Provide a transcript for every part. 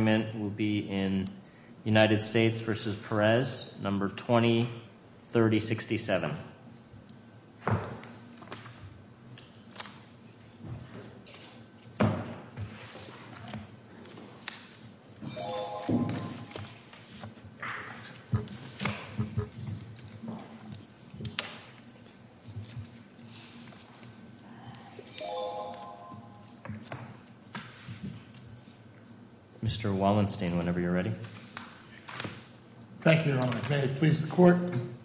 컬러 negative unemployment will be in United States v. Perez, number 203067. Mr. Wallenstein, whenever you're ready, thank you, please the court,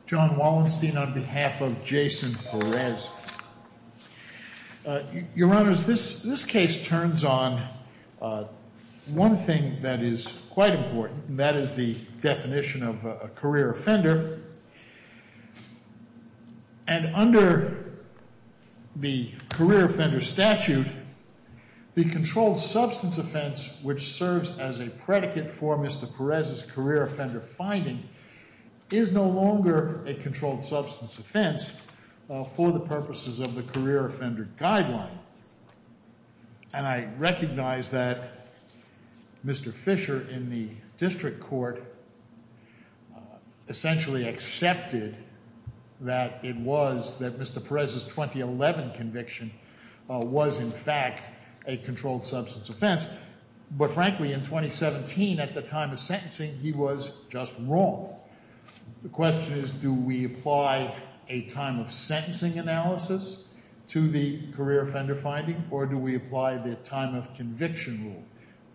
John Wallenstein on behalf of Jason Perez. Your honors, this case turns on one thing that is quite important, and that is the definition of a career offender. And under the career offender statute, the controlled substance offense, which serves as a predicate for Mr. Perez's career offender finding, is no longer a controlled substance offense for the purposes of the career offender guideline. And I recognize that Mr. Fisher in the district court essentially accepted that it was, that Mr. Perez's 2011 conviction was in fact a controlled substance offense, but frankly in 2017 at the time of sentencing, he was just wrong. The question is, do we apply a time of sentencing analysis to the career offender finding, or do we apply the time of conviction rule?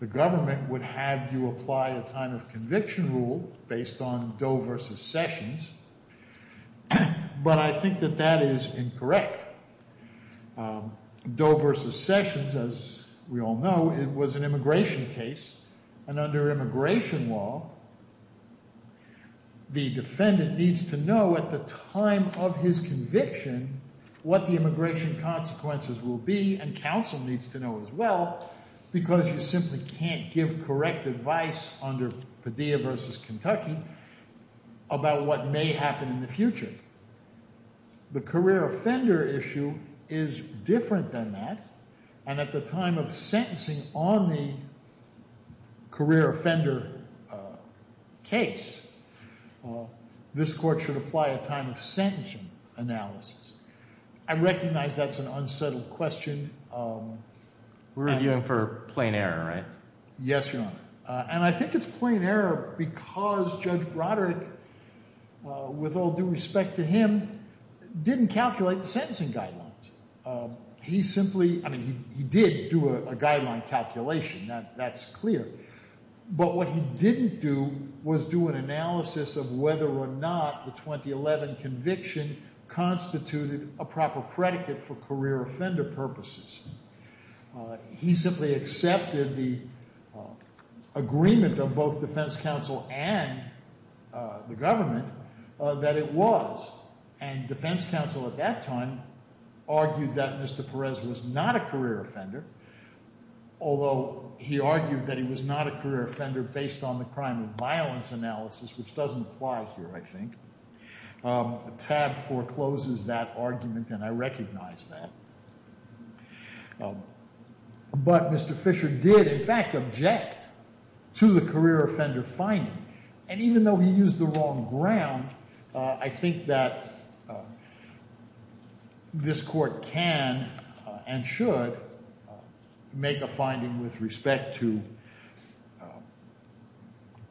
The government would have you apply a time of conviction rule based on Doe v. Sessions, but I think that that is incorrect. Doe v. Sessions, as we all know, it was an immigration case, and under immigration law, the defendant needs to know at the time of his conviction what the immigration consequences will be, and counsel needs to know as well, because you simply can't give correct advice under Padilla v. Kentucky about what may happen in the future. The career offender issue is different than that, and at the time of sentencing on the career offender case, this court should apply a time of sentencing analysis. I recognize that's an unsettled question. We're reviewing for plain error, right? Yes, Your Honor. And I think it's plain error because Judge Broderick, with all due respect to him, didn't calculate the sentencing guidelines. He simply, I mean, he did do a guideline calculation, that's clear, but what he didn't do was do an analysis of whether or not the 2011 conviction constituted a proper predicate for career offender purposes. He simply accepted the agreement of both defense counsel and the government that it was, and defense counsel at that time argued that Mr. Perez was not a career offender, although he argued that he was not a career offender based on the crime and violence analysis, which doesn't apply here, I think. TAB forecloses that argument, and I recognize that. But Mr. Fisher did, in fact, object to the career offender finding, and even though he used the wrong ground, I think that this court can and should make a finding with respect to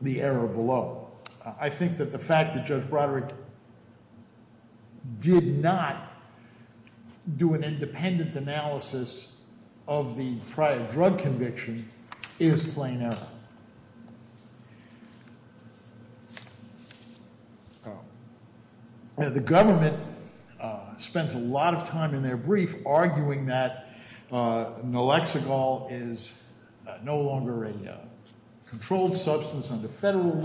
the error below. I think that the fact that Judge Broderick did not do an independent analysis of the prior drug conviction is plain error. The government spent a lot of time in their brief arguing that naloxonol is no longer a controlled substance under federal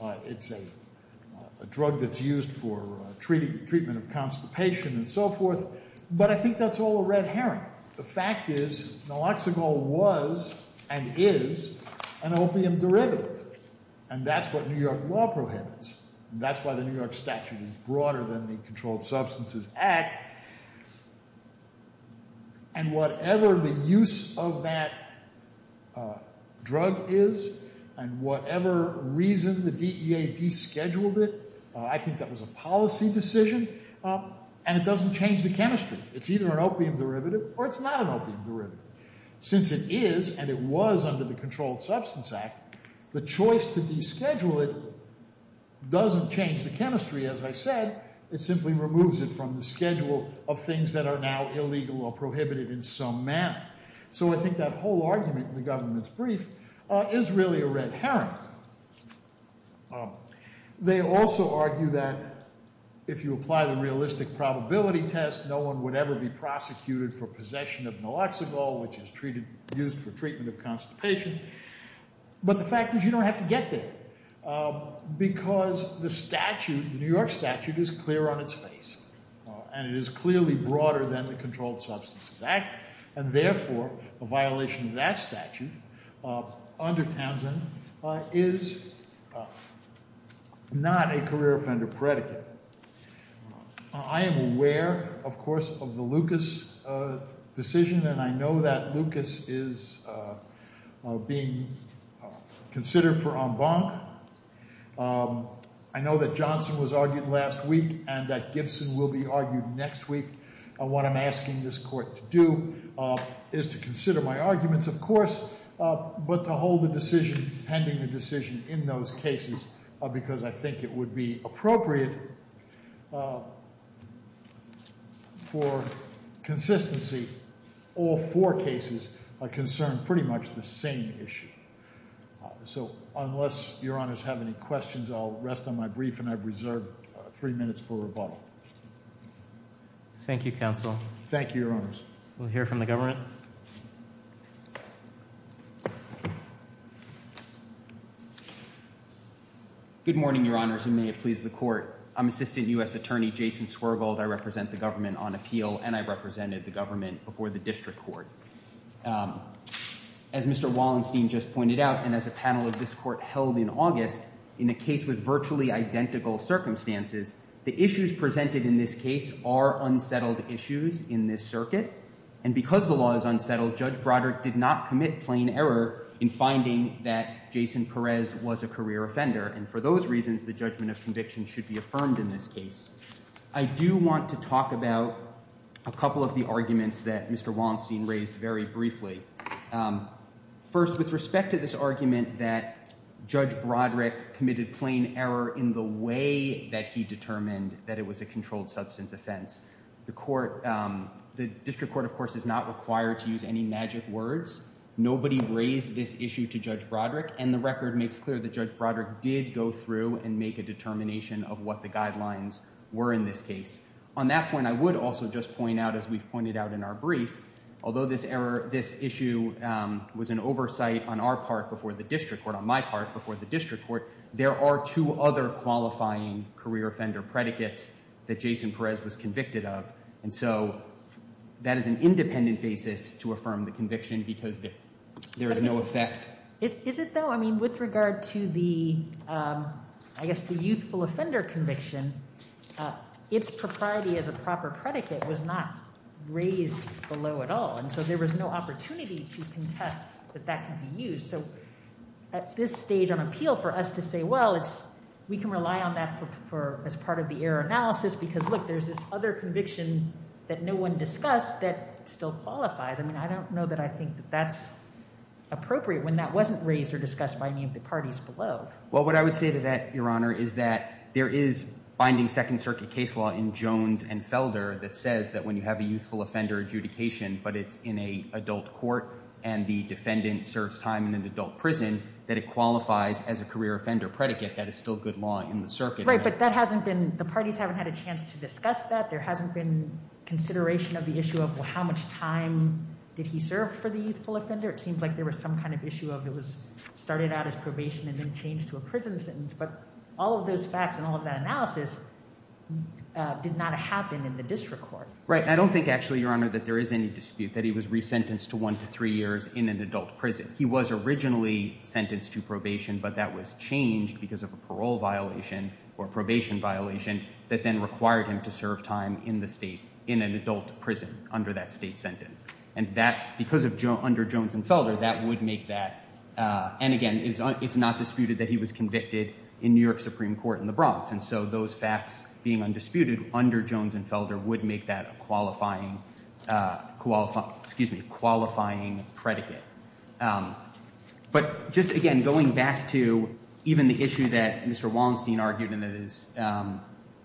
law. It's a drug that's used for treatment of constipation and so forth. But I think that's all a red herring. The fact is naloxonol was and is an opium derivative, and that's what New York law prohibits. That's why the New York statute is broader than the Controlled Substances Act. And whatever the use of that drug is, and whatever reason the DEA descheduled it, I think that was a policy decision, and it doesn't change the chemistry. It's either an opium derivative or it's not an opium derivative. Since it is, and it was under the Controlled Substances Act, the choice to deschedule it doesn't change the chemistry, as I said. It simply removes it from the schedule of things that are now illegal or prohibited in some manner. So I think that whole argument in the government's brief is really a red herring. They also argue that if you apply the realistic probability test, no one would ever be prosecuted for possession of naloxonol, which is used for treatment of constipation. But the fact is you don't have to get there, because the statute, the New York statute, is clear on its face, and it is clearly broader than the Controlled Substances Act, and therefore a violation of that statute under Townsend is not a career offender predicate. I am aware, of course, of the Lucas decision, and I know that Lucas is being considered for en banc. I know that Johnson was argued last week and that Gibson will be argued next week. What I'm asking this court to do is to consider my arguments, of course, but to hold the decision pending the decision in those cases, because I think it would be appropriate for consistency. All four cases concern pretty much the same issue. So unless Your Honors have any questions, I'll rest on my brief, and I've reserved three minutes for rebuttal. Thank you, counsel. Thank you, Your Honors. We'll hear from the government. Mr. Wallenstein. Good morning, Your Honors, and may it please the Court. I'm Assistant U.S. Attorney Jason Swergold. I represent the government on appeal, and I represented the government before the district court. As Mr. Wallenstein just pointed out, and as a panel of this Court held in August, in a case with virtually identical circumstances, the issues presented in this case are unsettled issues in this circuit, and because the law is unsettled, Judge Broderick did not commit plain error in finding that Jason Perez was a career offender, and for those reasons, the judgment of conviction should be affirmed in this case. I do want to talk about a couple of the arguments that Mr. Wallenstein raised very briefly. First, with respect to this argument that Judge Broderick committed plain error in the way that he determined that it was a controlled substance offense, the district court, of course, is not required to use any magic words. Nobody raised this issue to Judge Broderick, and the record makes clear that Judge Broderick did go through and make a determination of what the guidelines were in this case. On that point, I would also just point out, as we've pointed out in our brief, although this issue was an oversight on our part before the district court, on my part before the district court, there were no underlying career offender predicates that Jason Perez was convicted of, and so that is an independent basis to affirm the conviction because there is no effect. Is it, though? I mean, with regard to the, I guess, the youthful offender conviction, its propriety as a proper predicate was not raised below at all, and so there was no opportunity to contest that that could be used. So at this stage on appeal, for us to say, well, we can rely on that as part of the error analysis because, look, there's this other conviction that no one discussed that still qualifies. I mean, I don't know that I think that that's appropriate when that wasn't raised or discussed by any of the parties below. Well, what I would say to that, Your Honor, is that there is binding Second Circuit case law in Jones and Felder that says that when you have a youthful offender adjudication, but it's in an adult court and the defendant serves time in an adult prison, that it qualifies as a career offender predicate. That is still good law in the circuit. Right, but that hasn't been, the parties haven't had a chance to discuss that. There hasn't been consideration of the issue of, well, how much time did he serve for the youthful offender? It seems like there was some kind of issue of it was started out as probation and then changed to a prison sentence, but all of those facts and all of that analysis did not happen in the district court. Right. I don't think, actually, Your Honor, that there is any dispute that he was resentenced to one to three years in an adult prison. He was originally sentenced to probation, but that was changed because of a parole violation or probation violation that then required him to serve time in the state in an adult prison under that state sentence. And that, because of, under Jones and Felder, that would make that, and again, it's not disputed that he was convicted in New York Supreme Court in the Bronx. And so, those facts being undisputed under Jones and Felder would make that a qualifying predicate. But just, again, going back to even the issue that Mr. Wallenstein argued and that is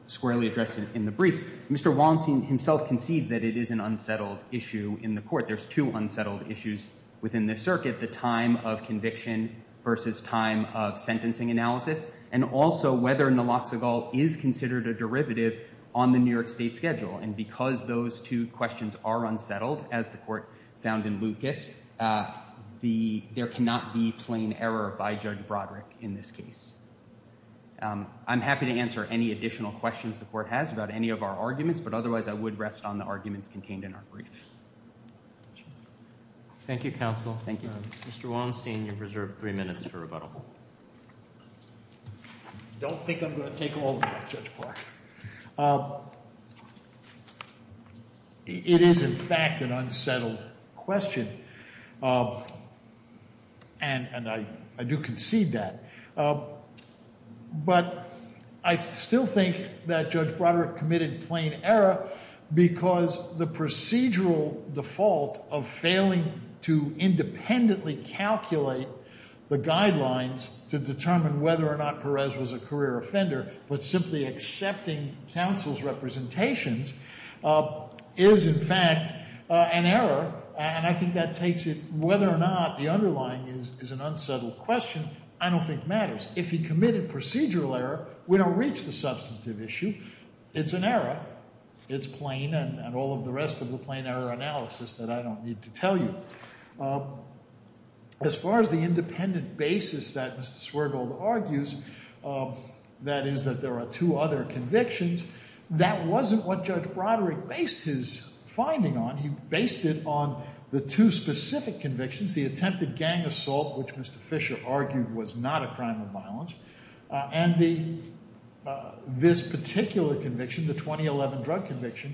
squarely addressed in the briefs, Mr. Wallenstein himself concedes that it is an unsettled issue in the court. There's two unsettled issues within this circuit, the time of conviction versus time of sentencing analysis, and also whether Naloxonegal is considered a derivative on the New York State schedule. And because those two questions are unsettled, as the court found in Lucas, there cannot be plain error by Judge Broderick in this case. I'm happy to answer any additional questions the court has about any of our arguments, but otherwise I would rest on the arguments contained in our briefs. Thank you, counsel. Thank you. Mr. Wallenstein, you're reserved three minutes for rebuttal. Don't think I'm going to take all of that, Judge Clark. It is, in fact, an unsettled question, and I do concede that. But I still think that Judge Broderick committed plain error because the procedural default of failing to independently calculate the guidelines to determine whether or not Perez was a career offender, but simply accepting counsel's representations, is, in fact, an error. And I think that takes it whether or not the underlying is an unsettled question I don't think matters. If he committed procedural error, we don't reach the substantive issue. It's an error. It's plain, and all of the rest of the plain error analysis that I don't need to tell you. As far as the independent basis that Mr. Swergold argues, that is that there are two other convictions, that wasn't what Judge Broderick based his finding on. He based it on the two specific convictions, the attempted gang assault, which Mr. Fisher argued was not a crime of violence, and this particular conviction, the 2011 drug conviction,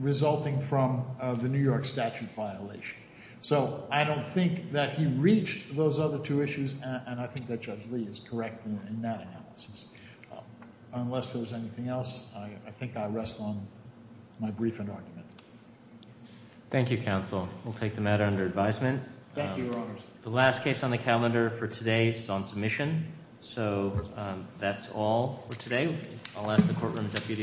resulting from the New York statute violation. So I don't think that he reached those other two issues, and I think that Judge Lee is correct in that analysis. Unless there was anything else, I think I rest on my brief and argument. Thank you, counsel. We'll take the matter under advisement. Thank you, Your Honors. The last case on the calendar for today is on submission. So that's all for today. I'll ask the courtroom deputy.